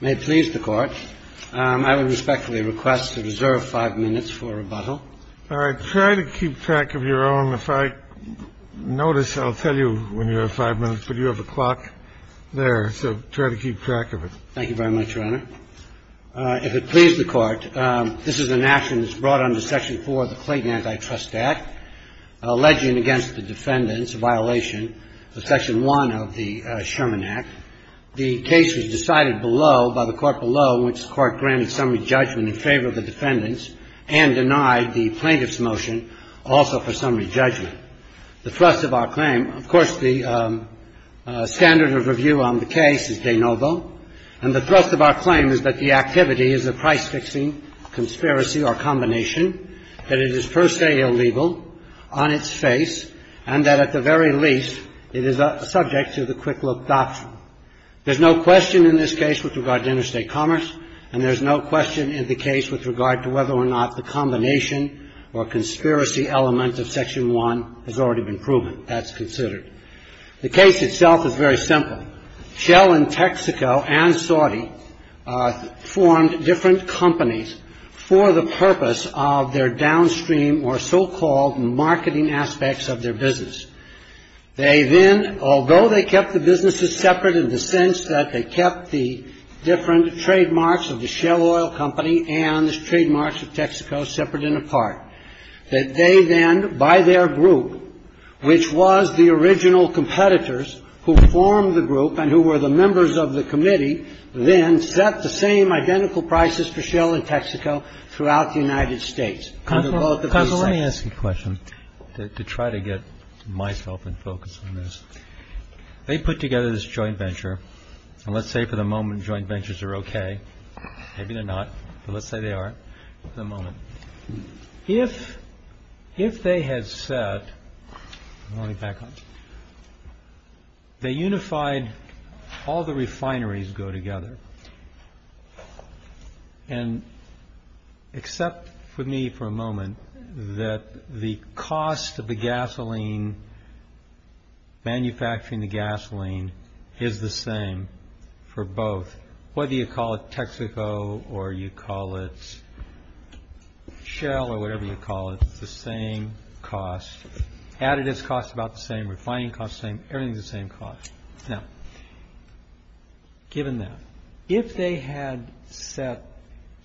May it please the Court, I would respectfully request to reserve five minutes for rebuttal. All right. Try to keep track of your own. If I notice, I'll tell you when you have five minutes, but you have a clock there, so try to keep track of it. Thank you very much, Your Honor. If it please the Court, this is an action that's brought under Section 4 of the Clayton Antitrust Act alleging against the defendants a violation of Section 1 of the Sherman Act. The case was decided below, by the court below, in which the court granted summary judgment in favor of the defendants and denied the plaintiff's motion also for summary judgment. The thrust of our claim, of course, the standard of review on the case is de novo, and the thrust of our claim is that the activity is a price-fixing conspiracy or combination, that it is per se illegal on its face, and that at the very least it is subject to the quick-look doctrine. There's no question in this case with regard to interstate commerce, and there's no question in the case with regard to whether or not the combination or conspiracy element of Section 1 has already been proven. The case itself is very simple. Shell in Texaco and Saudi formed different companies for the purpose of their downstream or so-called marketing aspects of their business. They then, although they kept the businesses separate in the sense that they kept the different trademarks of the Shell Oil Company and the trademarks of Texaco separate and apart, that they then, by their group, which was the original competitors who formed the group and who were the members of the committee, then set the same identical prices for Shell in Texaco throughout the United States. Under both the basics. Kennedy. Counselor, let me ask you a question to try to get myself in focus on this. They put together this joint venture, and let's say for the moment joint ventures are okay. Maybe they're not, but let's say they are for the moment. If they had said they unified all the refineries go together and except for me for a moment that the cost of the gasoline, manufacturing the gasoline is the same for both. Whether you call it Texaco or you call it Shell or whatever you call it, it's the same cost. Added its cost about the same, refining cost same, everything's the same cost. Now, given that, if they had set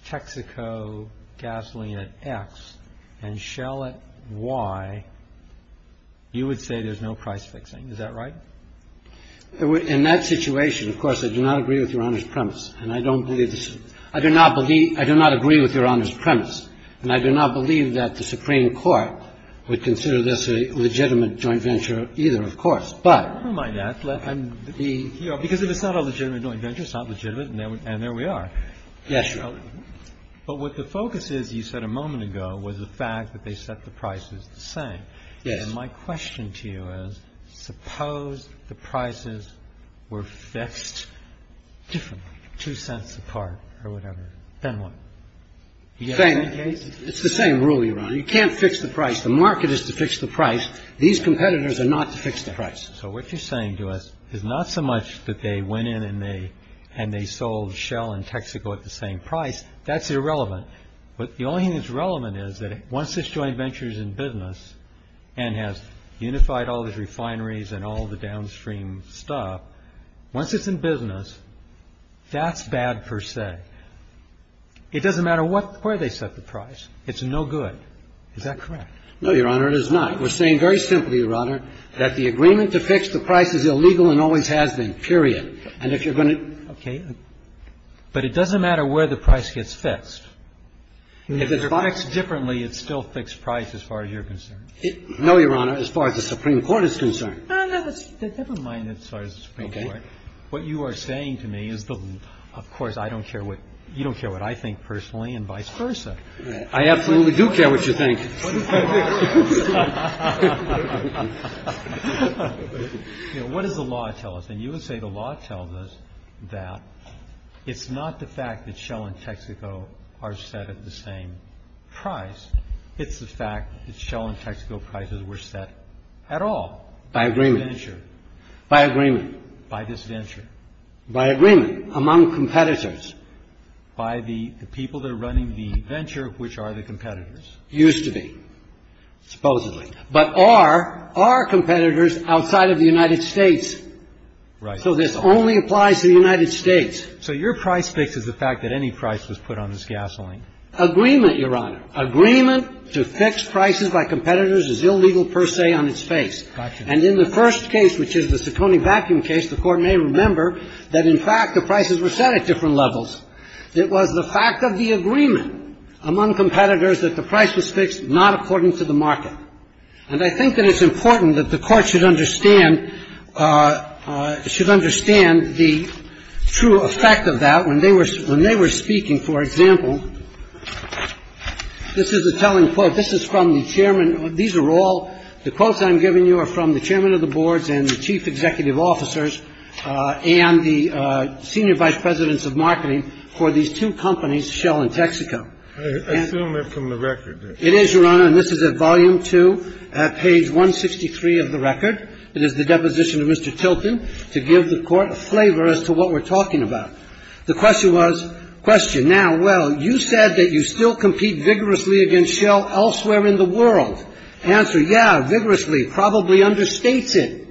Texaco gasoline at X and Shell at Y, you would say there's no price fixing. Is that right? In that situation, of course, I do not agree with your honor's premise. And I don't believe I do not believe I do not agree with your honor's premise. And I do not believe that the Supreme Court would consider this a legitimate joint venture either, of course. Never mind that. Because if it's not a legitimate joint venture, it's not legitimate. And there we are. But what the focus is, you said a moment ago, was the fact that they set the prices the same. And my question to you is, suppose the prices were fixed differently, two cents apart or whatever. Then what? It's the same rule, Your Honor. You can't fix the price. The market is to fix the price. These competitors are not to fix the price. So what you're saying to us is not so much that they went in and they sold Shell and Texaco at the same price. That's irrelevant. But the only thing that's relevant is that once this joint venture is in business and has unified all these refineries and all the downstream stuff, once it's in business, that's bad per se. It doesn't matter where they set the price. It's no good. Is that correct? No, Your Honor, it is not. We're saying very simply, Your Honor, that the agreement to fix the price is illegal and always has been, period. And if you're going to ---- Okay. But it doesn't matter where the price gets fixed. If it's fixed differently, it's still fixed price as far as you're concerned. No, Your Honor, as far as the Supreme Court is concerned. Never mind as far as the Supreme Court. Okay. What you are saying to me is, of course, I don't care what you don't care what I think personally and vice versa. I absolutely do care what you think. What does the law tell us? And you would say the law tells us that it's not the fact that Shell and Texaco are set at the same price. It's the fact that Shell and Texaco prices were set at all. By agreement. By this venture. By agreement. By this venture. By agreement among competitors. By the people that are running the venture, which are the competitors. Used to be. Supposedly. But are, are competitors outside of the United States. Right. So this only applies to the United States. So your price fix is the fact that any price was put on this gasoline. Agreement, Your Honor. Agreement to fix prices by competitors is illegal per se on its face. And in the first case, which is the Ciccone vacuum case, the Court may remember that in fact the prices were set at different levels. It was the fact of the agreement among competitors that the price was fixed, not according to the market. And I think that it's important that the court should understand, should understand the true effect of that. When they were, when they were speaking, for example, this is a telling quote. This is from the chairman. These are all the quotes I'm giving you are from the chairman of the boards and the chief executive officers and the senior vice presidents of marketing. For these two companies, Shell and Texaco. I assume they're from the record. It is, Your Honor. And this is at volume two at page 163 of the record. It is the deposition of Mr. Tilton to give the court a flavor as to what we're talking about. The question was, question now. Well, you said that you still compete vigorously against Shell elsewhere in the world. Answer. Yeah, vigorously. Probably understates it.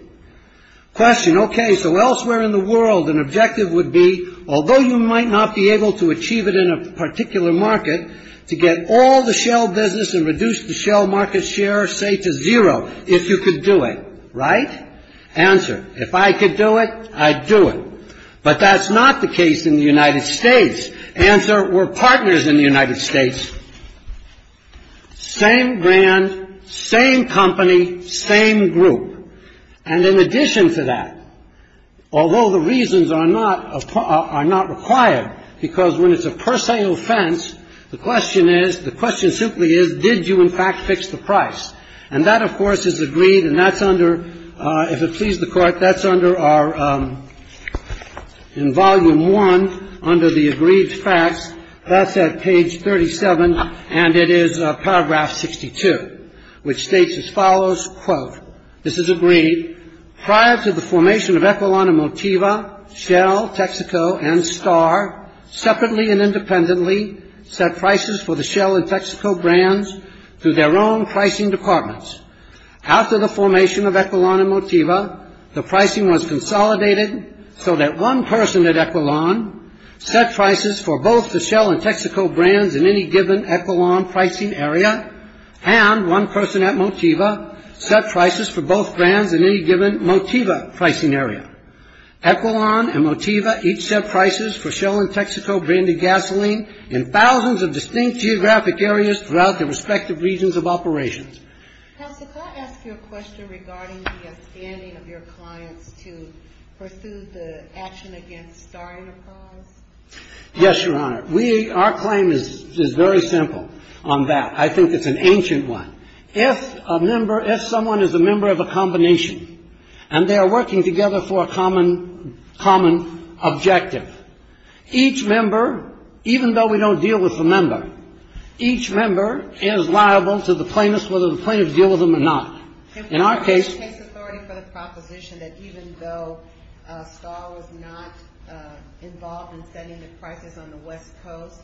Question. Okay. So elsewhere in the world, an objective would be, although you might not be able to achieve it in a particular market, to get all the Shell business and reduce the Shell market share, say, to zero if you could do it. Right. Answer. If I could do it, I'd do it. But that's not the case in the United States. Answer. We're partners in the United States. Same brand, same company, same group. And in addition to that, although the reasons are not required, because when it's a per se offense, the question is, the question simply is, did you, in fact, fix the price? And that, of course, is agreed, and that's under, if it pleases the Court, that's under our, in volume one, under the agreed facts, that's at page 37, and it is paragraph 62, which states as follows, this is agreed, prior to the formation of Equilon and Motiva, Shell, Texaco, and Star, separately and independently set prices for the Shell and Texaco brands through their own pricing departments. After the formation of Equilon and Motiva, the pricing was consolidated so that one person at Equilon set prices for both the Shell and Texaco brands in any given Equilon pricing area, and one person at Motiva set prices for both brands in any given Motiva pricing area. Equilon and Motiva each set prices for Shell and Texaco branded gasoline in thousands of distinct geographic areas throughout their respective regions of operations. Counsel, could I ask you a question regarding the standing of your clients to pursue the action against Star Enterprise? Yes, Your Honor. We, our claim is very simple on that. I think it's an ancient one. If a member, if someone is a member of a combination, and they are working together for a common, common objective, each member, even though we don't deal with the member, each member is liable to the plaintiffs, whether the plaintiffs deal with them or not. In our case. What's your best case authority for the proposition that even though Star was not involved in setting the prices on the West Coast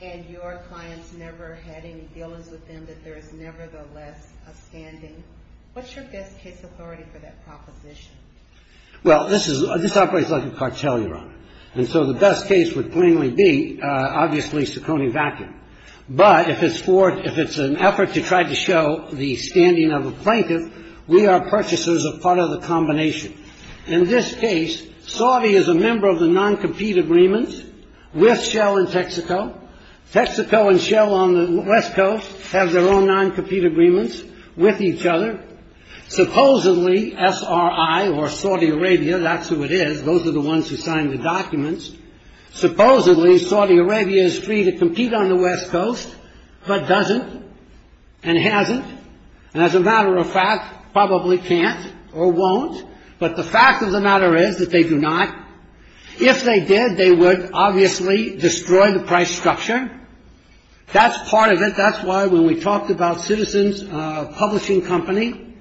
and your clients never had any dealings with them, that there is nevertheless a standing? What's your best case authority for that proposition? Well, this is, this operates like a cartel, Your Honor. And so the best case would plainly be, obviously, Ciccone Vacuum. But if it's for, if it's an effort to try to show the standing of a plaintiff, we are purchasers of part of the combination. In this case, Saudi is a member of the non-compete agreement with Shell in Texaco. Texaco and Shell on the West Coast have their own non-compete agreements with each other. Supposedly, SRI or Saudi Arabia, that's who it is. Those are the ones who signed the documents. Supposedly, Saudi Arabia is free to compete on the West Coast, but doesn't and hasn't. And as a matter of fact, probably can't or won't. But the fact of the matter is that they do not. If they did, they would obviously destroy the price structure. That's part of it. That's why when we talked about Citizens Publishing Company,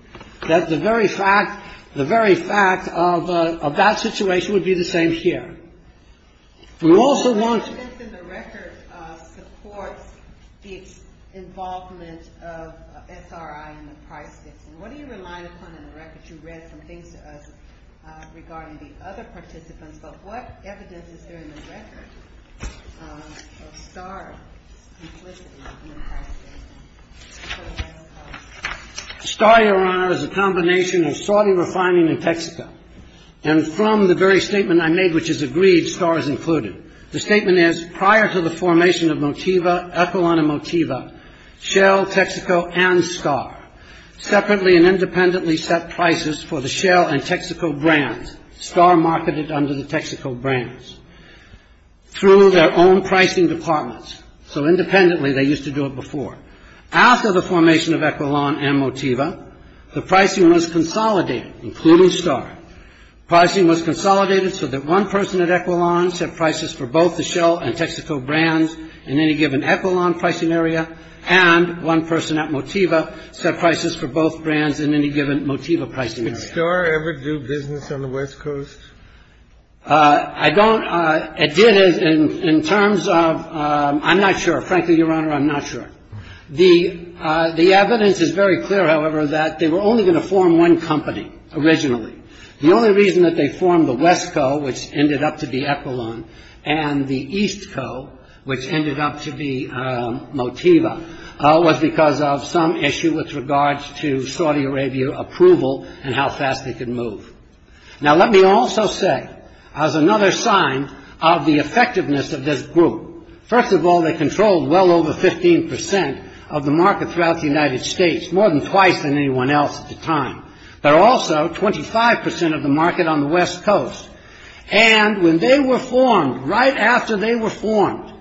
that the very fact, the very fact of that situation would be the same here. We also want. Evidence in the record supports the involvement of SRI in the price case. And what do you rely upon in the record? You read some things to us regarding the other participants, but what evidence is there in the record of Star implicitly in the price case? Star, Your Honor, is a combination of Saudi refining and Texaco. And from the very statement I made, which is agreed, Star is included. The statement is, prior to the formation of Motiva, Equalon and Motiva, Shell, Texaco, and Star separately and independently set prices for the Shell and Texaco brands. Star marketed under the Texaco brands through their own pricing departments. So independently, they used to do it before. After the formation of Equilon and Motiva, the pricing was consolidated, including Star. Pricing was consolidated so that one person at Equilon set prices for both the Shell and Texaco brands in any given Equilon pricing area, and one person at Motiva set prices for both brands in any given Motiva pricing area. Did Star ever do business on the West Coast? I don't. It did in terms of, I'm not sure. Frankly, Your Honor, I'm not sure. The evidence is very clear, however, that they were only going to form one company originally. The only reason that they formed the West Coast, which ended up to be Equilon, and the East Coast, which ended up to be Motiva, was because of some issue with regards to Saudi Arabia approval and how fast they could move. Now, let me also say, as another sign of the effectiveness of this group, first of all, they controlled well over 15 percent of the market throughout the United States, more than twice than anyone else at the time. But also, 25 percent of the market on the West Coast. And when they were formed, right after they were formed,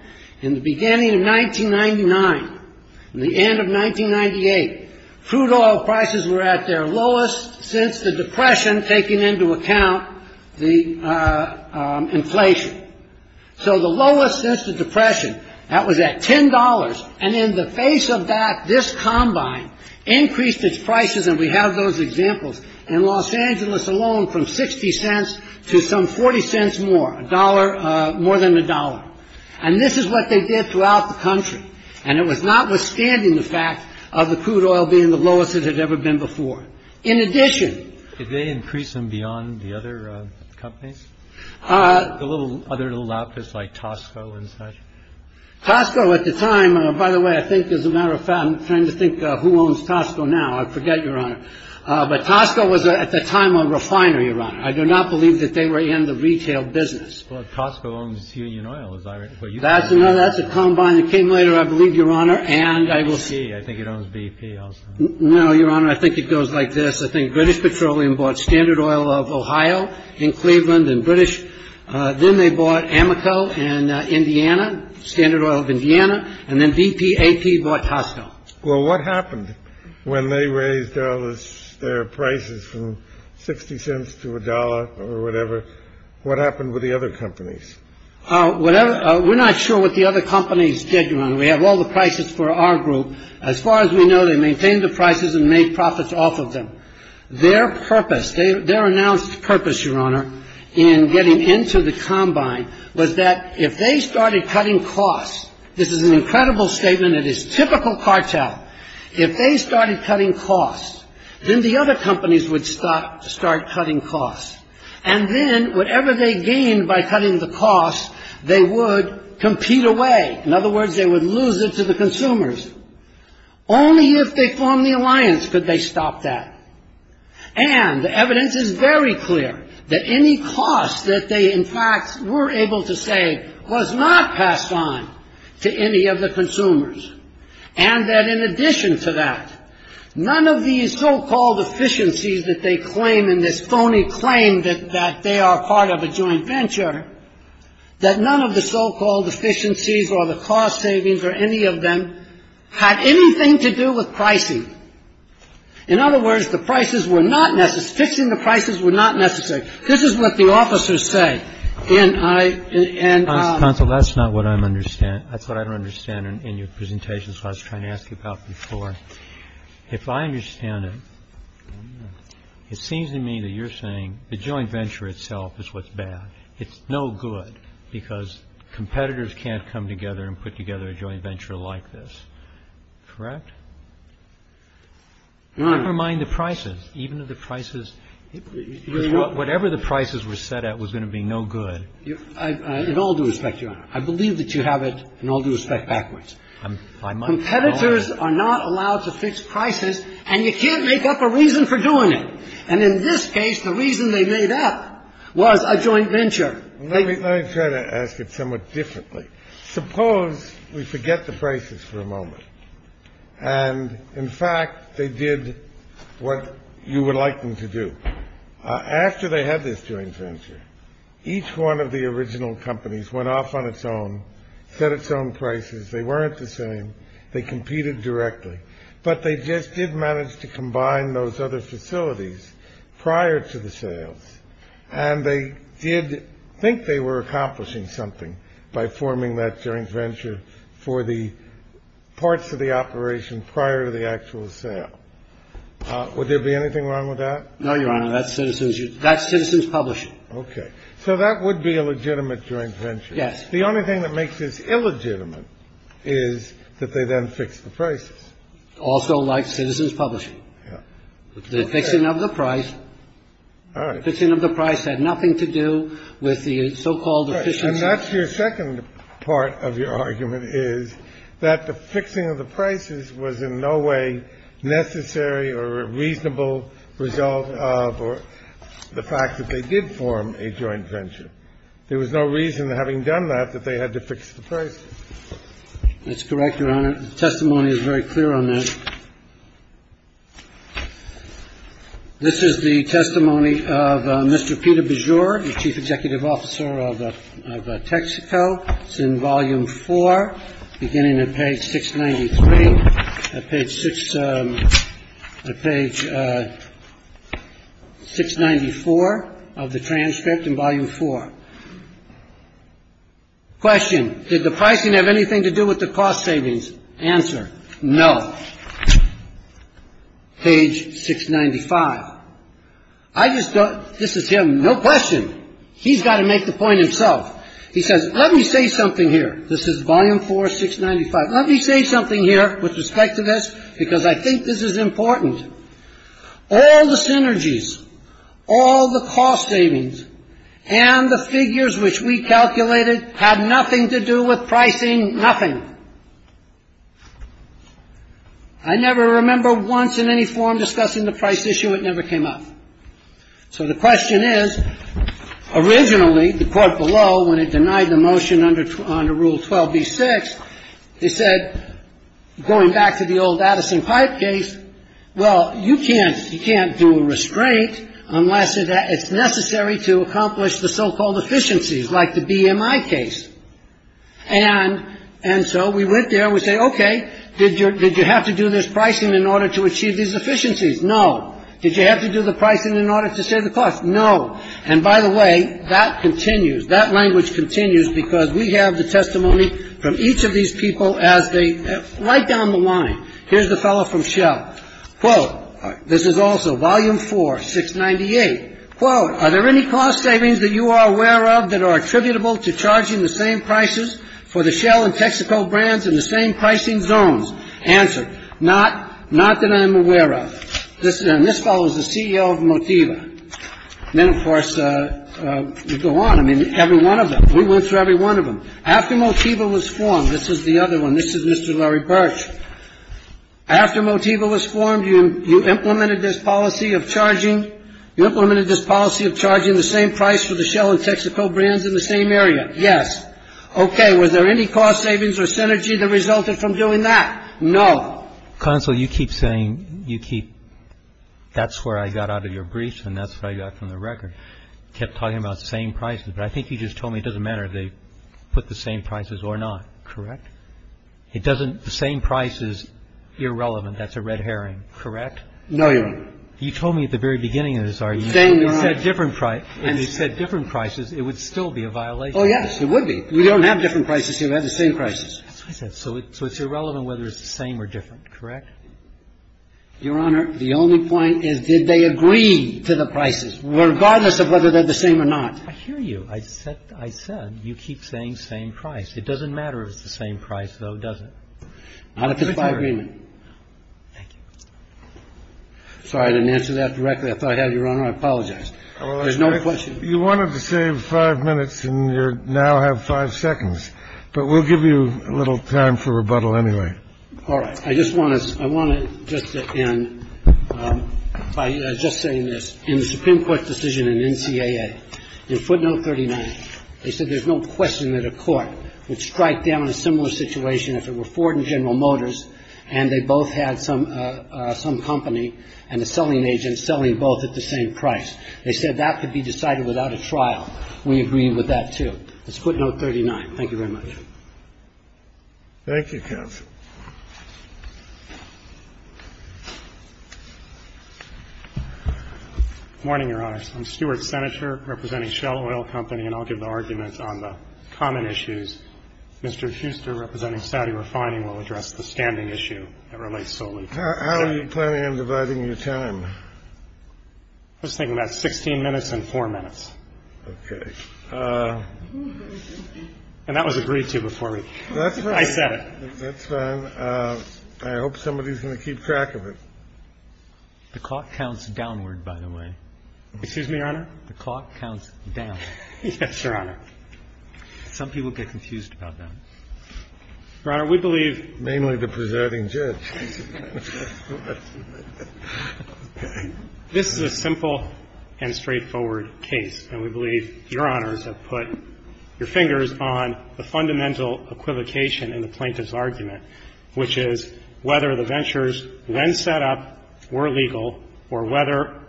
in the beginning of 1999 and the end of 1998, crude oil prices were at their lowest since the Depression, taking into account the inflation. So the lowest since the Depression, that was at $10. And in the face of that, this combine increased its prices. And we have those examples in Los Angeles alone, from 60 cents to some 40 cents more, a dollar, more than a dollar. And this is what they did throughout the country. And it was notwithstanding the fact of the crude oil being the lowest it had ever been before. In addition. Did they increase them beyond the other companies? The other little outfits like Tosco and such? Tosco at the time. By the way, I think as a matter of fact, I'm trying to think who owns Tosco now. I forget, Your Honor. But Tosco was at the time a refiner. I do not believe that they were in the retail business. Tosco owns Union Oil. That's another. That's a combine that came later, I believe, Your Honor. And I will see. I think it owns BP. No, Your Honor. I think it goes like this. I think British Petroleum bought Standard Oil of Ohio in Cleveland and British. Then they bought Amoco in Indiana, Standard Oil of Indiana. And then BP AP bought Tosco. Well, what happened when they raised their prices from 60 cents to a dollar or whatever? What happened with the other companies? Whatever. We're not sure what the other companies did. We have all the prices for our group. As far as we know, they maintain the prices and make profits off of them. Their purpose, their announced purpose, Your Honor, in getting into the combine was that if they started cutting costs, this is an incredible statement. It is typical cartel. If they started cutting costs, then the other companies would start cutting costs. And then whatever they gained by cutting the costs, they would compete away. In other words, they would lose it to the consumers. Only if they formed the alliance could they stop that. And the evidence is very clear that any cost that they, in fact, were able to save was not passed on to any of the consumers. And that in addition to that, none of these so-called efficiencies that they claim in this phony claim that they are part of a joint venture, that none of the so-called efficiencies or the cost savings or any of them had anything to do with pricing. In other words, the prices were not necessary. Fixing the prices were not necessary. This is what the officers say. And I. And that's not what I understand. That's what I don't understand in your presentation. So I was trying to ask you about before. If I understand it, it seems to me that you're saying the joint venture itself is what's bad. It's no good because competitors can't come together and put together a joint venture like this. Correct. Never mind the prices. Even if the prices, whatever the prices were set at was going to be no good. You know, I do respect you. I believe that you have it. I'll do it backwards. Competitors are not allowed to fix prices and you can't make up a reason for doing it. And in this case, the reason they made up was a joint venture. Let me try to ask it somewhat differently. Suppose we forget the prices for a moment. And in fact, they did what you would like them to do. After they had this joint venture, each one of the original companies went off on its own, set its own prices. They weren't the same. They competed directly. But they just didn't manage to combine those other facilities prior to the sales. And they did think they were accomplishing something by forming that joint venture for the parts of the operation prior to the actual sale. Would there be anything wrong with that? No, Your Honor. That's Citizens Publishing. Okay. So that would be a legitimate joint venture. Yes. The only thing that makes this illegitimate is that they then fixed the prices. Also like Citizens Publishing. Yeah. The fixing of the price. All right. The fixing of the price had nothing to do with the so-called efficiency. And that's your second part of your argument, is that the fixing of the prices was in no way necessary or a reasonable result of the fact that they did form a joint venture. There was no reason, having done that, that they had to fix the prices. That's correct, Your Honor. The testimony is very clear on that. This is the testimony of Mr. Peter Bajor, the chief executive officer of Texaco. It's in Volume 4, beginning at page 693. Page 694 of the transcript in Volume 4. Question. Did the pricing have anything to do with the cost savings? Answer. No. Page 695. This is him. No question. He's got to make the point himself. He says, let me say something here. This is Volume 4, 695. Let me say something here with respect to this, because I think this is important. All the synergies, all the cost savings, and the figures which we calculated had nothing to do with pricing, nothing. I never remember once in any form discussing the price issue. It never came up. So the question is, originally, the court below, when it denied the motion under Rule 12b-6, they said, going back to the old Addison-Pipe case, well, you can't do a restraint unless it's necessary to accomplish the so-called efficiencies, like the BMI case. And so we went there. We say, okay, did you have to do this pricing in order to achieve these efficiencies? No. Did you have to do the pricing in order to save the cost? No. And by the way, that continues. That language continues, because we have the testimony from each of these people as they write down the line. Here's the fellow from Shell. Quote, this is also Volume 4, 698. Quote, are there any cost savings that you are aware of that are attributable to charging the same prices for the Shell and Texaco brands in the same pricing zones? Answer, not that I'm aware of. This follows the CEO of Motiva. Then, of course, we go on. I mean, every one of them. We went through every one of them. After Motiva was formed, this is the other one. This is Mr. Larry Birch. After Motiva was formed, you implemented this policy of charging the same price for the Shell and Texaco brands in the same area? Yes. Okay. Were there any cost savings or synergy that resulted from doing that? No. Counsel, you keep saying you keep that's where I got out of your briefs and that's what I got from the record. I don't know if you're talking about the same prices, but I think you just told me it doesn't matter if they put the same prices or not, correct? It doesn't the same price is irrelevant. That's a red herring, correct? No, Your Honor. You told me at the very beginning of this argument. Same, Your Honor. If it said different prices, it would still be a violation. Oh, yes. It would be. We don't have different prices here. We have the same prices. That's what I said. So it's irrelevant whether it's the same or different, correct? Your Honor, the only point is, did they agree to the prices, regardless of whether they're the same or not? I hear you. I said you keep saying same price. It doesn't matter if it's the same price, though, does it? Not if it's by agreement. Thank you. Sorry, I didn't answer that directly. I thought I had, Your Honor. I apologize. There's no question. You wanted to save five minutes and you now have five seconds. But we'll give you a little time for rebuttal anyway. All right. I just want to end by just saying this. In the Supreme Court decision in NCAA, in footnote 39, they said there's no question that a court would strike down a similar situation if it were Ford and General Motors and they both had some company and a selling agent selling both at the same price. They said that could be decided without a trial. We agree with that, too. That's footnote 39. Thank you very much. Thank you. Thank you, counsel. Good morning, Your Honor. I'm Stuart Senator representing Shell Oil Company, and I'll give the argument on the common issues. Mr. Huster, representing Saudi Refining, will address the standing issue that relates solely to Shell. How are you planning on dividing your time? I was thinking about 16 minutes and 4 minutes. Okay. And that was agreed to before I said it. That's fine. I hope somebody's going to keep track of it. The clock counts downward, by the way. Excuse me, Your Honor? The clock counts down. Yes, Your Honor. Some people get confused about that. Your Honor, we believe — Mainly the presiding judge. Okay. This is a simple and straightforward case, and we believe Your Honors have put your fingers on the fundamental equivocation in the plaintiff's argument, which is whether the ventures, when set up, were legal or whether,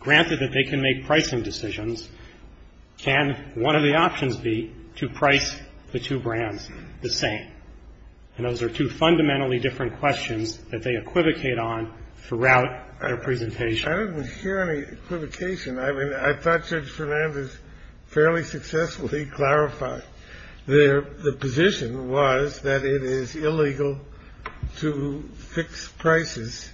granted that they can make pricing decisions, can one of the options be to price the two brands the same. And those are two fundamentally different questions that they equivocate on throughout their presentation. I didn't hear any equivocation. I mean, I thought Judge Fernandez fairly successfully clarified. The position was that it is illegal to fix prices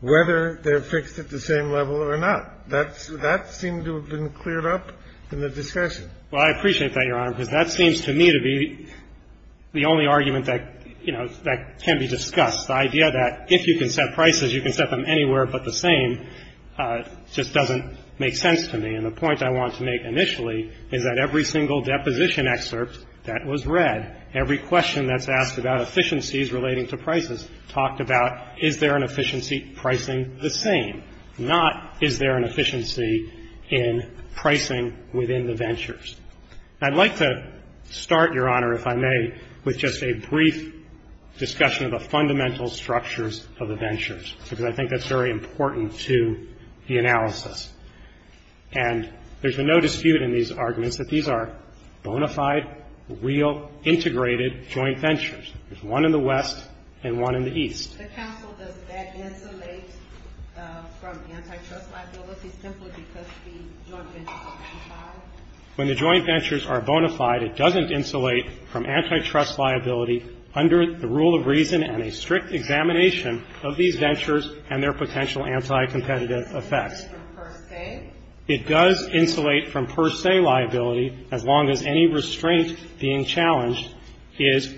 whether they're fixed at the same level or not. That seemed to have been cleared up in the discussion. Well, I appreciate that, Your Honor, because that seems to me to be the only argument that, you know, that can be discussed. The idea that if you can set prices, you can set them anywhere but the same just doesn't make sense to me. And the point I want to make initially is that every single deposition excerpt that was read, every question that's asked about efficiencies relating to prices talked about is there an efficiency pricing the same, not is there an efficiency in pricing within the ventures. I'd like to start, Your Honor, if I may, with just a brief discussion of the fundamental structures of the ventures, because I think that's very important to the analysis. And there's no dispute in these arguments that these are bona fide, real, integrated joint ventures. There's one in the west and one in the east. The counsel does that insulate from antitrust liability simply because the joint ventures are bona fide? When the joint ventures are bona fide, it doesn't insulate from antitrust liability under the rule of reason and a strict examination of these ventures and their potential anti-competitive effects. It insulates from per se? It does insulate from per se liability as long as any restraint being challenged is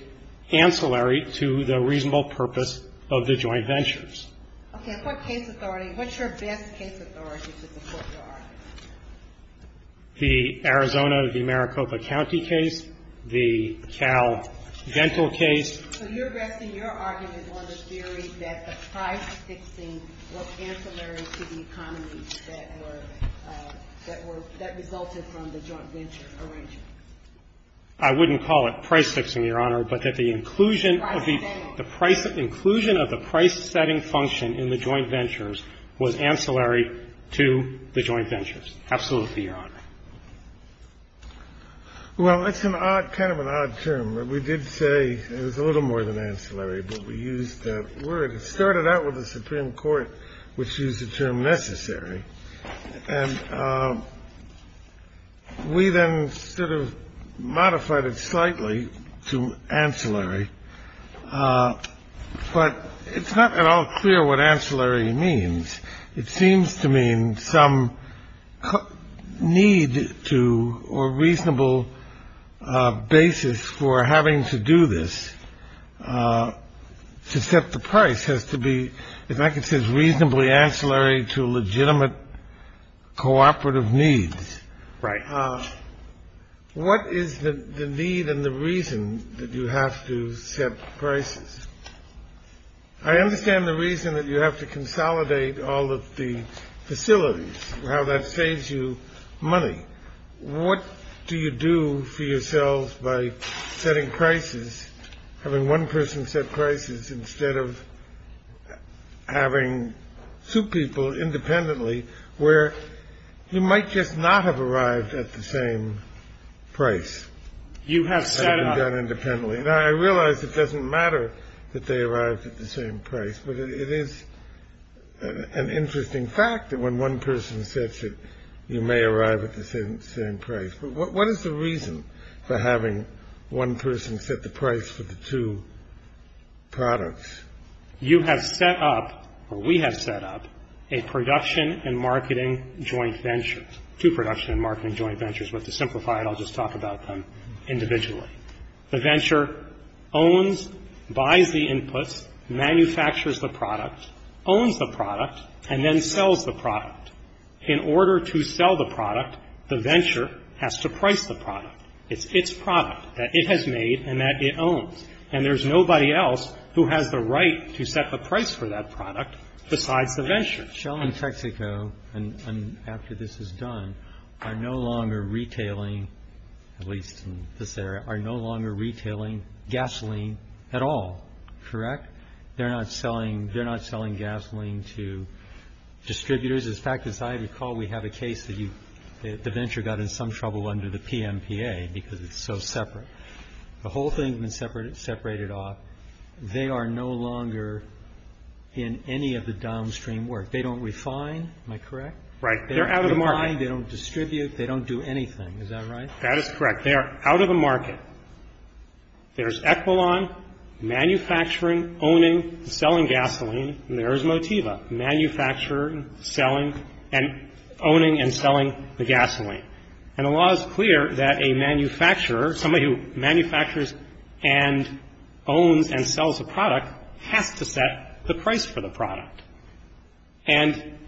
ancillary to the reasonable purpose of the joint ventures. Okay. What case authority, what's your best case authority to support your argument? The Arizona, the Maricopa County case, the Cal Dental case. So you're resting your argument on the theory that the price fixing was ancillary to the economy that were, that resulted from the joint venture arrangement? I wouldn't call it price fixing, Your Honor, but that the inclusion of the price setting function in the joint ventures was ancillary to the joint ventures. Absolutely, Your Honor. Well, it's an odd, kind of an odd term. We did say it was a little more than ancillary, but we used that word. It started out with the Supreme Court, which used the term necessary. And we then sort of modified it slightly to ancillary. But it's not at all clear what ancillary means. It seems to mean some need to or reasonable basis for having to do this. To set the price has to be, if I could say, reasonably ancillary to legitimate cooperative needs. Right. What is the need and the reason that you have to set prices? I understand the reason that you have to consolidate all of the facilities, how that saves you money. What do you do for yourselves by setting prices, having one person set prices instead of having two people independently, where you might just not have arrived at the same price? You have set up. And done independently. Now, I realize it doesn't matter that they arrived at the same price. But it is an interesting fact that when one person sets it, you may arrive at the same price. But what is the reason for having one person set the price for the two products? You have set up, or we have set up, a production and marketing joint venture. Two production and marketing joint ventures. But to simplify it, I'll just talk about them individually. The venture owns, buys the inputs, manufactures the product, owns the product, and then sells the product. In order to sell the product, the venture has to price the product. It's its product that it has made and that it owns. And there's nobody else who has the right to set the price for that product besides the venture. Shell and Texaco, after this is done, are no longer retailing, at least in this area, are no longer retailing gasoline at all. Correct? They're not selling gasoline to distributors. In fact, as I recall, we have a case that the venture got in some trouble under the PMPA because it's so separate. The whole thing has been separated off. They are no longer in any of the downstream work. They don't refine. Am I correct? Right. They're out of the market. They don't refine. They don't distribute. They don't do anything. Is that right? That is correct. They are out of the market. There's Equilon manufacturing, owning, selling gasoline, and there's Motiva, manufacturing, selling and owning and selling the gasoline. And the law is clear that a manufacturer, somebody who manufactures and owns and sells a product, has to set the price for the product. And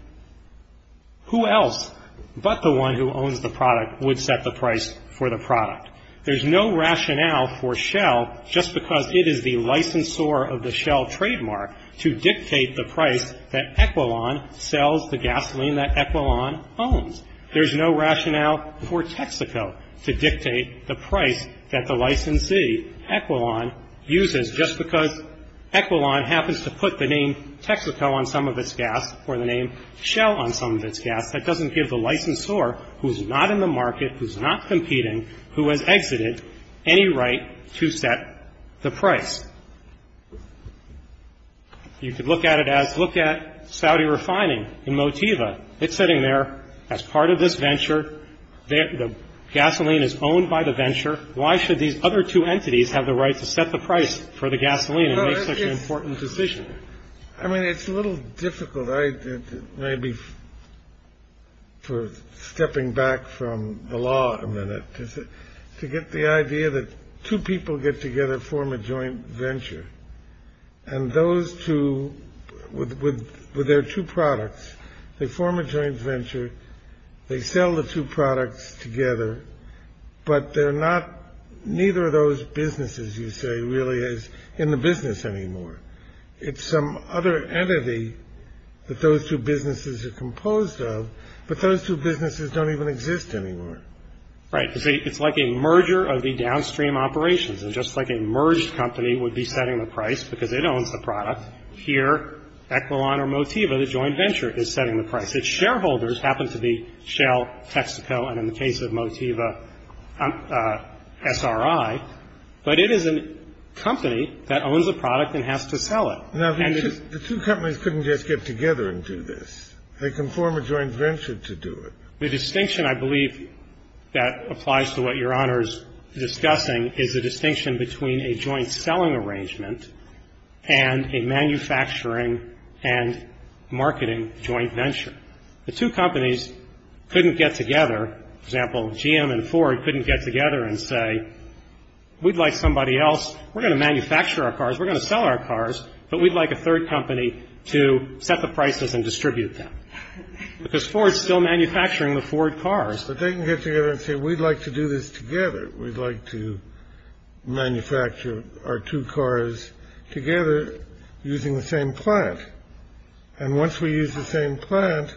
who else but the one who owns the product would set the price for the product? There's no rationale for Shell, just because it is the licensor of the Shell trademark, to dictate the price that Equilon sells the gasoline that Equilon owns. There's no rationale for Texaco to dictate the price that the licensee, Equilon, uses, just because Equilon happens to put the name Texaco on some of its gas or the name Shell on some of its gas. That doesn't give the licensor, who's not in the market, who's not competing, who has exited, any right to set the price. You could look at it as, look at Saudi Refining and Motiva. It's sitting there as part of this venture. The gasoline is owned by the venture. Why should these other two entities have the right to set the price for the gasoline and make such an important decision? I mean, it's a little difficult, maybe for stepping back from the law a minute, to get the idea that two people get together, form a joint venture. And those two, with their two products, they form a joint venture, they sell the two products together, but neither of those businesses, you say, really is in the business anymore. It's some other entity that those two businesses are composed of, but those two businesses don't even exist anymore. Right. It's like a merger of the downstream operations. And just like a merged company would be setting the price because it owns the product, here, Equilon or Motiva, the joint venture, is setting the price. Its shareholders happen to be Shell, Texaco, and in the case of Motiva, SRI. But it is a company that owns a product and has to sell it. Now, the two companies couldn't just get together and do this. They can form a joint venture to do it. The distinction, I believe, that applies to what Your Honor is discussing, is the distinction between a joint selling arrangement and a manufacturing and marketing joint venture. The two companies couldn't get together. For example, GM and Ford couldn't get together and say, we'd like somebody else. We're going to manufacture our cars, we're going to sell our cars, but we'd like a third company to set the prices and distribute them. Because Ford's still manufacturing the Ford cars. But they can get together and say, we'd like to do this together. We'd like to manufacture our two cars together using the same plant. And once we use the same plant,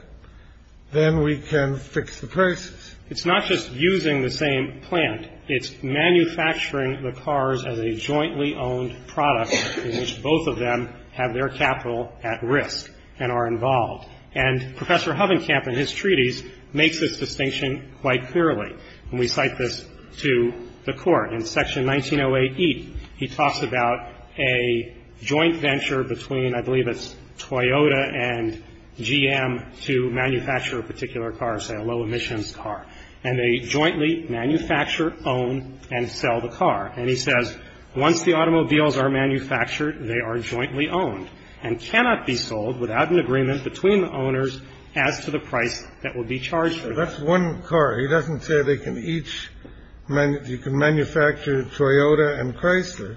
then we can fix the prices. It's not just using the same plant. It's manufacturing the cars as a jointly owned product in which both of them have their capital at risk and are involved. And Professor Hovenkamp, in his treaties, makes this distinction quite clearly. And we cite this to the Court. In Section 1908E, he talks about a joint venture between, I believe it's Toyota and GM, to manufacture a particular car, say a low emissions car. And they jointly manufacture, own, and sell the car. And he says, once the automobiles are manufactured, they are jointly owned and cannot be sold without an agreement between the owners as to the price that will be charged for them. That's one car. He doesn't say they can each – you can manufacture Toyota and Chrysler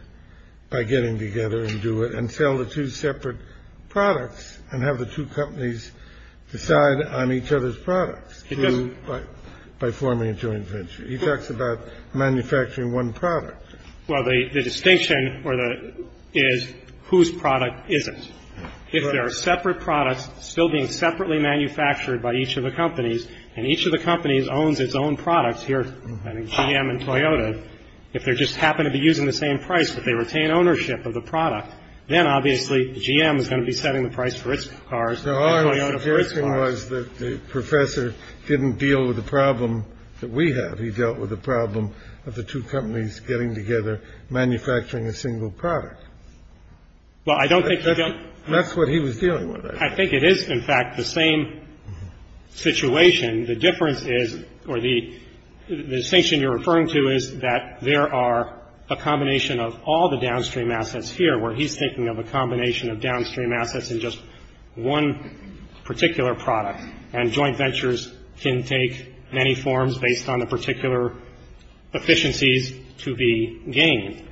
by getting together and do it and sell the two separate products and have the two companies decide on each other's products by forming a joint venture. He talks about manufacturing one product. Well, the distinction is whose product isn't. If there are separate products still being separately manufactured by each of the companies and each of the companies owns its own products here, I think GM and Toyota, if they just happen to be using the same price but they retain ownership of the product, then obviously GM is going to be setting the price for its cars and Toyota for its cars. Now, our suggestion was that the professor didn't deal with the problem that we have. He dealt with the problem of the two companies getting together, manufacturing a single product. Well, I don't think he dealt – That's what he was dealing with. I think it is, in fact, the same situation. The difference is – or the distinction you're referring to is that there are a combination of all the downstream assets here where he's thinking of a combination of downstream assets and just one particular product. And joint ventures can take many forms based on the particular efficiencies to be gained.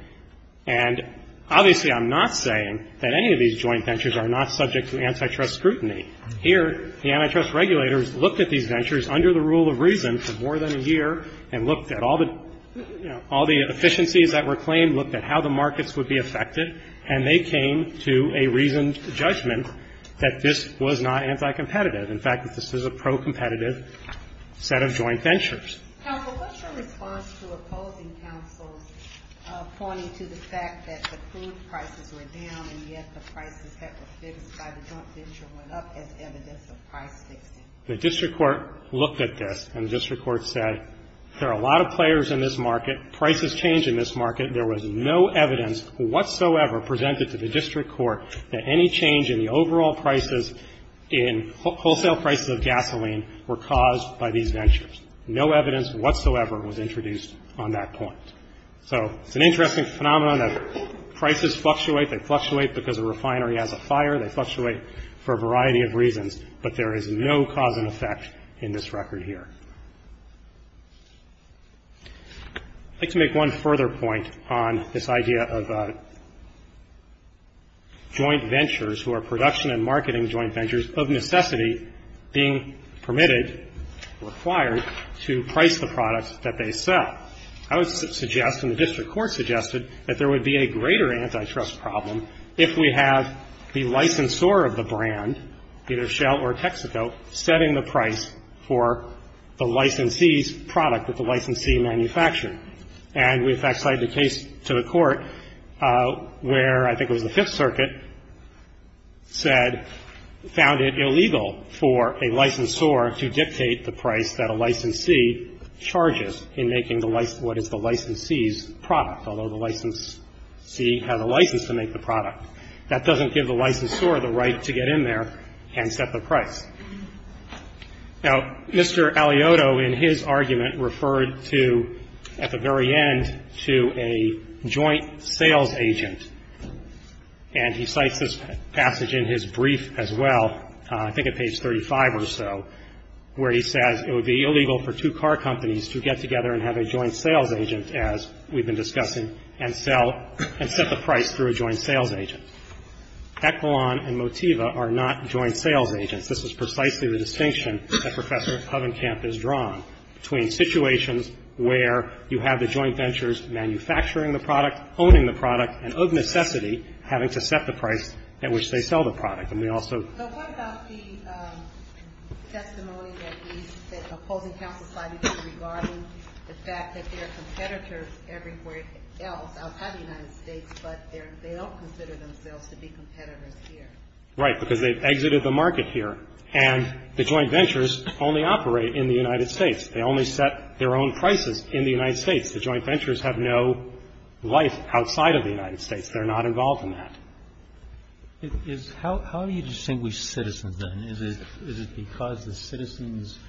And obviously I'm not saying that any of these joint ventures are not subject to antitrust scrutiny. Here, the antitrust regulators looked at these ventures under the rule of reason for more than a year and looked at all the efficiencies that were claimed, looked at how the markets would be affected, and they came to a reasoned judgment that this was not anticompetitive. In fact, that this is a pro-competitive set of joint ventures. Counsel, what's your response to opposing counsel's pointing to the fact that the food prices were down and yet the prices that were fixed by the joint venture went up as evidence of price fixing? The district court looked at this, and the district court said, there are a lot of players in this market, prices change in this market, there was no evidence whatsoever presented to the district court that any change in the overall prices in wholesale prices of gasoline were caused by these ventures. No evidence whatsoever was introduced on that point. So it's an interesting phenomenon that prices fluctuate. They fluctuate because a refinery has a fire. They fluctuate for a variety of reasons, but there is no cause and effect in this record here. I'd like to make one further point on this idea of joint ventures who are production and marketing joint ventures of necessity being permitted, required to price the products that they sell. I would suggest, and the district court suggested, that there would be a greater antitrust problem if we have the licensor of the brand, either Shell or Texaco, setting the price for the licensee's product that the licensee manufactured. And we, in fact, cited a case to the court where I think it was the Fifth Circuit said found it illegal for a licensor to dictate the price that a licensee charges in making what is the licensee's product, although the licensee has a license to make the product. That doesn't give the licensor the right to get in there and set the price. Now, Mr. Aliotto, in his argument, referred to, at the very end, to a joint sales agent. And he cites this passage in his brief as well, I think at page 35 or so, where he says it would be illegal for two car companies to get together and have a joint sales agent, as we've been discussing, and sell and set the price through a joint sales agent. Echelon and Motiva are not joint sales agents. This is precisely the distinction that Professor Hovenkamp has drawn between situations where you have the joint ventures manufacturing the product, owning the product, and of necessity having to set the price at which they sell the product. And we also ---- The testimony that he's ---- Right, because they've exited the market here. And the joint ventures only operate in the United States. They only set their own prices in the United States. The joint ventures have no life outside of the United States. They're not involved in that. How do you distinguish citizens, then? Is it because the citizens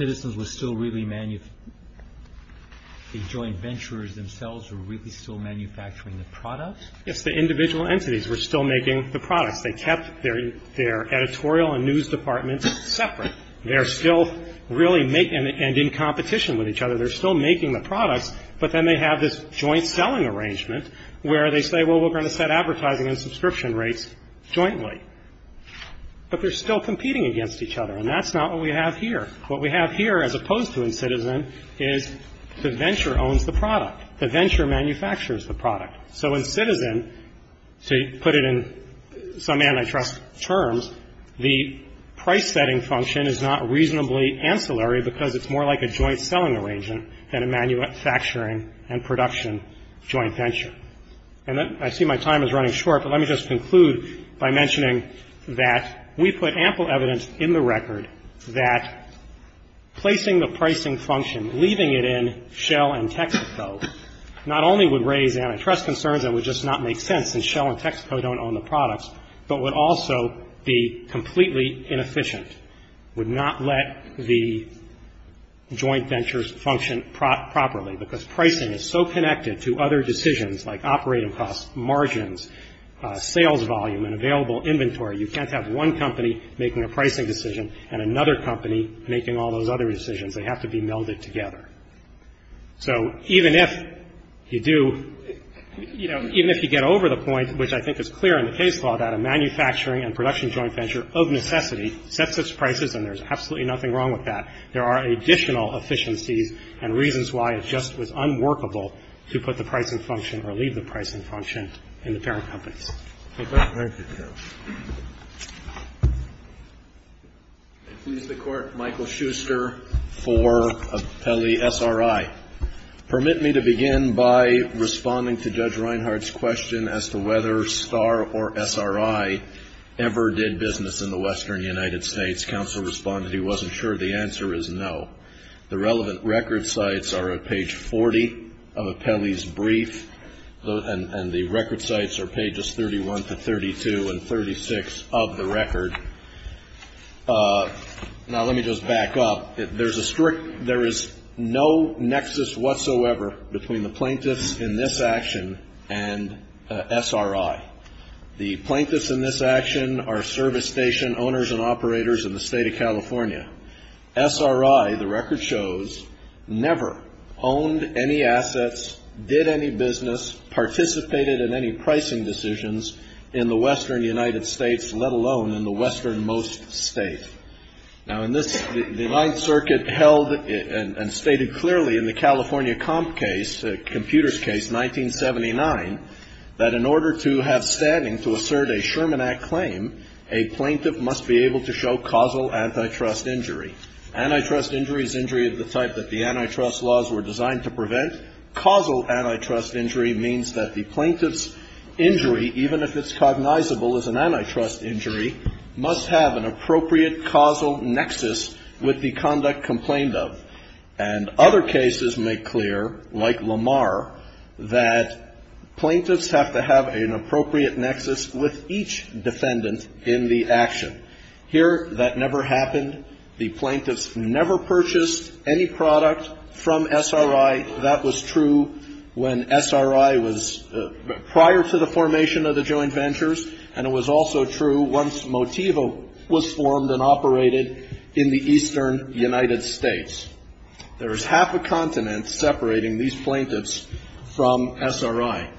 were still really ---- the joint ventures themselves were really still manufacturing the product? Yes, the individual entities were still making the products. They kept their editorial and news departments separate. They're still really making them, and in competition with each other. They're still making the products, but then they have this joint selling arrangement where they say, well, we're going to set advertising and subscription rates jointly. But they're still competing against each other, and that's not what we have here. What we have here, as opposed to in citizen, is the venture owns the product. The venture manufactures the product. So in citizen, to put it in some antitrust terms, the price-setting function is not reasonably ancillary because it's more like a joint selling arrangement than a manufacturing and production joint venture. And I see my time is running short, but let me just conclude by mentioning that we put ample evidence in the record that placing the pricing function, leaving it in Shell and Texaco, not only would raise antitrust concerns that would just not make sense, since Shell and Texaco don't own the products, but would also be completely inefficient, would not let the joint ventures function properly because pricing is so connected to other decisions like operating costs, margins, sales volume, and available inventory, you can't have one company making a pricing decision and another company making all those other decisions. They have to be melded together. So even if you do, you know, even if you get over the point, which I think is clear in the case law, that a manufacturing and production joint venture of necessity sets its prices and there's absolutely nothing wrong with that. There are additional efficiencies and reasons why it just was unworkable to put the pricing function or leave the pricing function in the parent companies. Okay? Breyer. Michael Schuster for Appellee SRI. Permit me to begin by responding to Judge Reinhart's question as to whether STAR or SRI ever did business in the western United States. Counsel responded he wasn't sure. The answer is no. The relevant record sites are at page 40 of Appellee's brief, and the record sites are pages 31 to 32 and 36 of the record. Now, let me just back up. There is no nexus whatsoever between the plaintiffs in this action and SRI. The plaintiffs in this action are service station owners and operators in the state of California. SRI, the record shows, never owned any assets, did any business, participated in any pricing decisions in the western United States, let alone in the westernmost state. Now, in this, the Ninth Circuit held and stated clearly in the California comp case, computer's case, 1979, that in order to have standing to assert a Sherman Act claim, a plaintiff must be able to show causal antitrust injury. Antitrust injury is injury of the type that the antitrust laws were designed to prevent. Causal antitrust injury means that the plaintiff's injury, even if it's cognizable as an antitrust injury, must have an appropriate causal nexus with the conduct complained of. And other cases make clear, like Lamar, that plaintiffs have to have an appropriate nexus with each defendant in the action. Here, that never happened. The plaintiffs never purchased any product from SRI. That was true when SRI was prior to the formation of the joint ventures, and it was also true once Motivo was formed and operated in the eastern United States. There is half a continent separating these plaintiffs from SRI.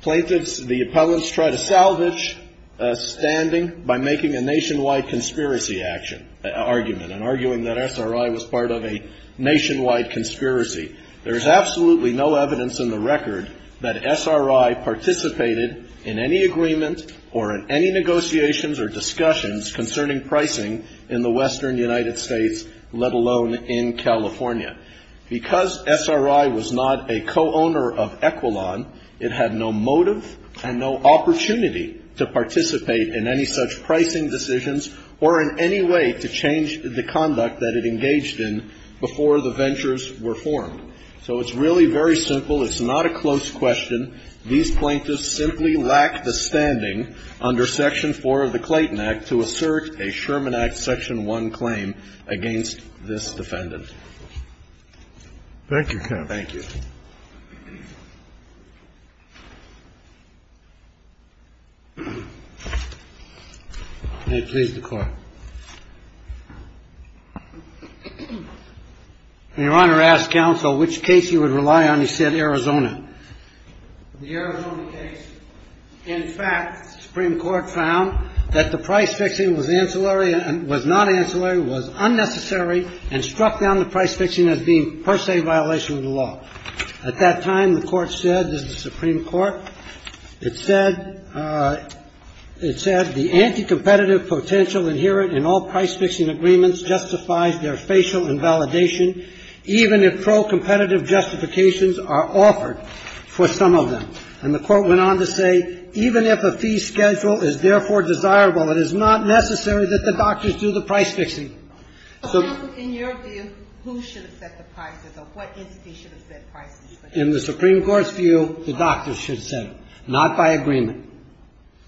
Plaintiffs, the appellants, try to salvage standing by making a nationwide conspiracy argument and arguing that SRI was part of a nationwide conspiracy. There is absolutely no evidence in the record that SRI participated in any agreement or in any negotiations or discussions concerning pricing in the western United States, let alone in California. Because SRI was not a co-owner of Equilon, it had no motive and no opportunity to participate in any such pricing decisions or in any way to change the conduct that it engaged in before the ventures were formed. So it's really very simple. It's not a close question. These plaintiffs simply lack the standing under Section 4 of the Clayton Act to assert a Sherman Act Section 1 claim against this defendant. Thank you, counsel. Thank you. May it please the Court. Your Honor, I asked counsel which case you would rely on. He said Arizona. The Arizona case. In fact, the Supreme Court found that the price fixing was ancillary and was not ancillary, was unnecessary, and struck down the price fixing as being per se a violation of the law. At that time, the Court said, this is the Supreme Court, it said the anti-competitive potential inherent in all price fixing agreements justifies their facial invalidation, even if pro-competitive justifications are offered for some of them. And the Court went on to say, even if a fee schedule is therefore desirable, it is not necessary that the doctors do the price fixing. So, counsel, in your view, who should have set the prices or what entity should have set prices? In the Supreme Court's view, the doctors should set them, not by agreement.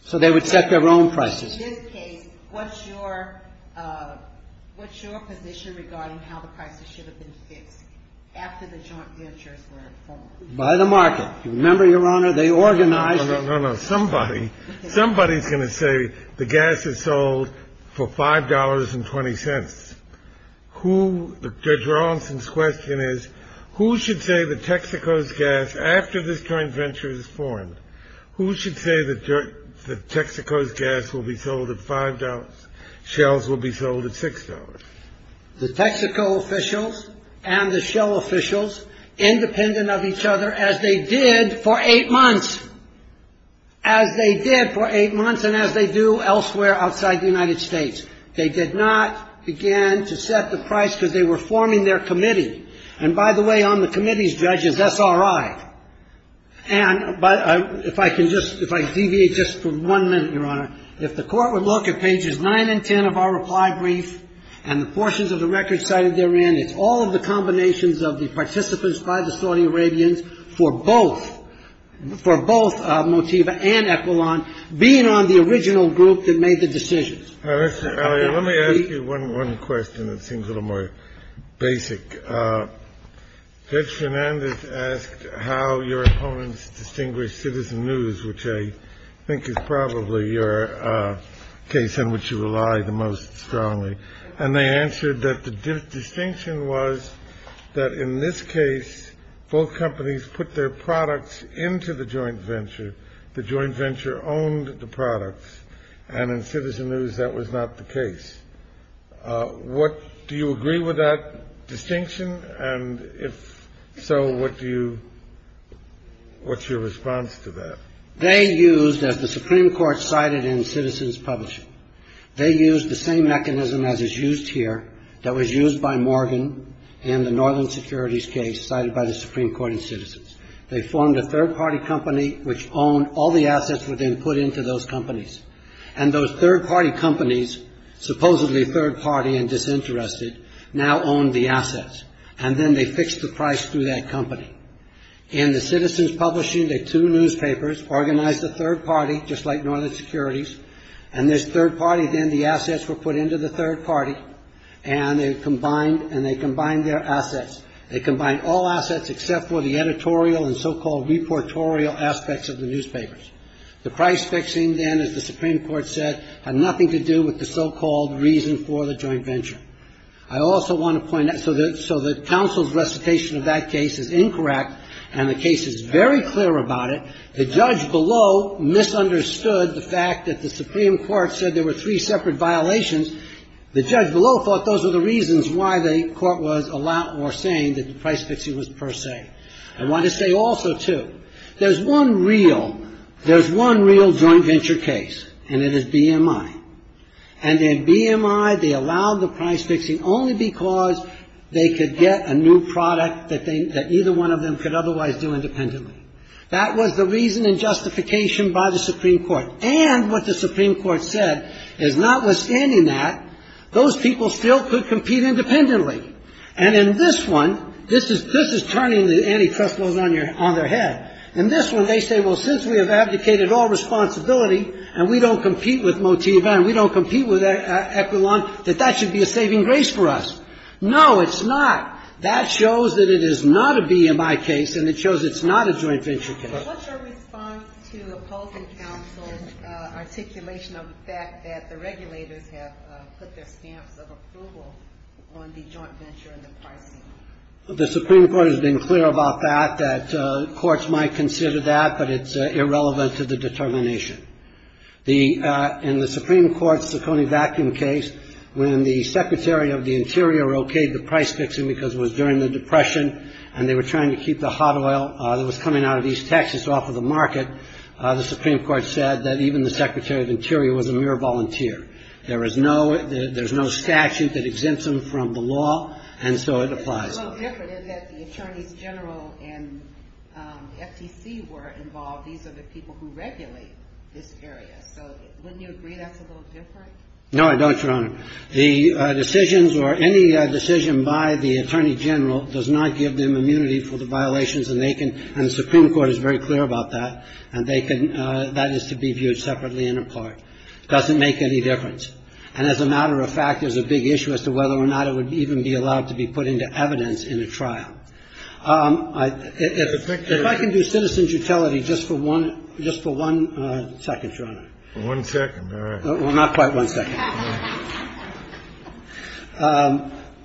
So they would set their own prices. In this case, what's your position regarding how the prices should have been fixed after the joint ventures were formed? By the market. You remember, Your Honor, they organized it. No, no, no. Somebody is going to say the gas is sold for $5.20. Judge Rawlinson's question is, who should say that Texaco's gas, after this joint venture is formed, who should say that Texaco's gas will be sold at $5, Shell's will be sold at $6? The Texaco officials and the Shell officials, independent of each other, as they did for eight months. As they did for eight months and as they do elsewhere outside the United States. They did not, again, to set the price because they were forming their committee. And by the way, on the committee's judges, that's all right. And if I can just, if I can deviate just for one minute, Your Honor, if the court would look at pages 9 and 10 of our reply brief and the portions of the record cited therein, it's all of the combinations of the participants by the Saudi Arabians for both, for both Motiva and Equilon, being on the original group that made the decisions. Let me ask you one question that seems a little more basic. Judge Fernandez asked how your opponents distinguished Citizen News, which I think is probably your case in which you rely the most strongly. And they answered that the distinction was that in this case, both companies put their products into the joint venture. The joint venture owned the products. And in Citizen News, that was not the case. What, do you agree with that distinction? And if so, what do you, what's your response to that? They used, as the Supreme Court cited in Citizens Publishing, they used the same mechanism as is used here that was used by Morgan in the Northern Securities case cited by the Supreme Court in Citizens. They formed a third-party company which owned, all the assets were then put into those companies. And those third-party companies, supposedly third-party and disinterested, now owned the assets. And then they fixed the price through that company. In the Citizens Publishing, the two newspapers organized a third party, just like Northern Securities, and this third party, then the assets were put into the third party. And they combined, and they combined their assets. They combined all assets except for the editorial and so-called reportorial aspects of the newspapers. The price fixing, then, as the Supreme Court said, had nothing to do with the so-called reason for the joint venture. I also want to point out, so the counsel's recitation of that case is incorrect, and the case is very clear about it. The judge below misunderstood the fact that the Supreme Court said there were three separate violations. The judge below thought those were the reasons why the court was saying that the price fixing was per se. I want to say also, too, there's one real, there's one real joint venture case, and it is BMI. And in BMI, they allowed the price fixing only because they could get a new product that either one of them could otherwise do independently. That was the reason and justification by the Supreme Court. And what the Supreme Court said is notwithstanding that, those people still could compete independently. And in this one, this is turning the antitrust laws on their head. In this one, they say, well, since we have abdicated all responsibility, and we don't compete with Motiva and we don't compete with Equilon, that that should be a saving grace for us. No, it's not. That shows that it is not a BMI case, and it shows it's not a joint venture case. What's your response to opposing counsel's articulation of the fact that the regulators have put their stamps of approval on the joint venture and the pricing? The Supreme Court has been clear about that, that courts might consider that, but it's irrelevant to the determination. In the Supreme Court's Ciccone vacuum case, when the Secretary of the Interior okayed the price fixing because it was during the Depression and they were trying to keep the hot oil that was coming out of East Texas off of the market, the Supreme Court said that even the Secretary of the Interior was a mere volunteer. There is no statute that exempts them from the law, and so it applies. What's a little different is that the attorneys general and FTC were involved. These are the people who regulate this area. So wouldn't you agree that's a little different? No, I don't, Your Honor. The decisions or any decision by the attorney general does not give them immunity for the violations, and the Supreme Court is very clear about that, and that is to be viewed separately and apart. It doesn't make any difference. And as a matter of fact, there's a big issue as to whether or not it would even be allowed to be put into evidence in a trial. If I can do citizen's utility just for one second, Your Honor. One second, all right. Well, not quite one second.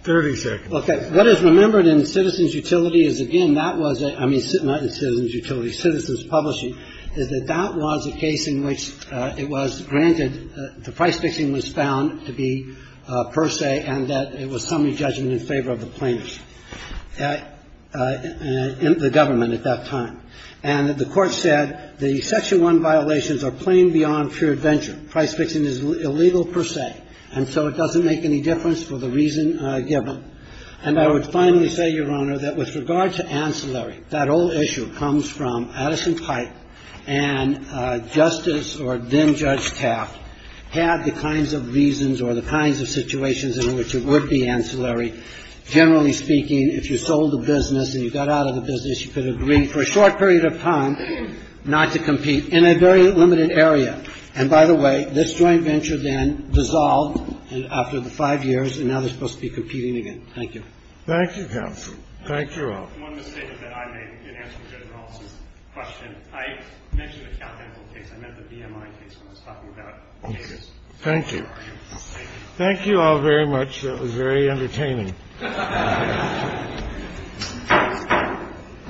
Thirty seconds. Okay. What is remembered in citizen's utility is, again, that was a — I mean, not in citizen's utility, citizen's publishing, is that that was a case in which it was granted the price fixing was found to be per se and that it was summary judgment in favor of the plaintiffs, the government at that time. And the Court said the Section 1 violations are plain beyond pure adventure. And the Court said that the price fixing is illegal per se, and so it doesn't make any difference for the reason given. And I would finally say, Your Honor, that with regard to ancillary, that whole issue comes from Addison-Pipe and Justice or then-Judge Taft had the kinds of reasons or the kinds of situations in which it would be ancillary. Generally speaking, if you sold a business and you got out of the business, you could agree for a short period of time not to compete in a very limited area. And, by the way, this joint venture then dissolved after the five years, and now they're supposed to be competing again. Thank you. Thank you, counsel. Thank you all. One mistake that I made in answering Judge Ross's question. I mentioned a countable case. I meant the BMI case when I was talking about papers. Thank you. Thank you. Thank you all very much. That was very entertaining. Thank you.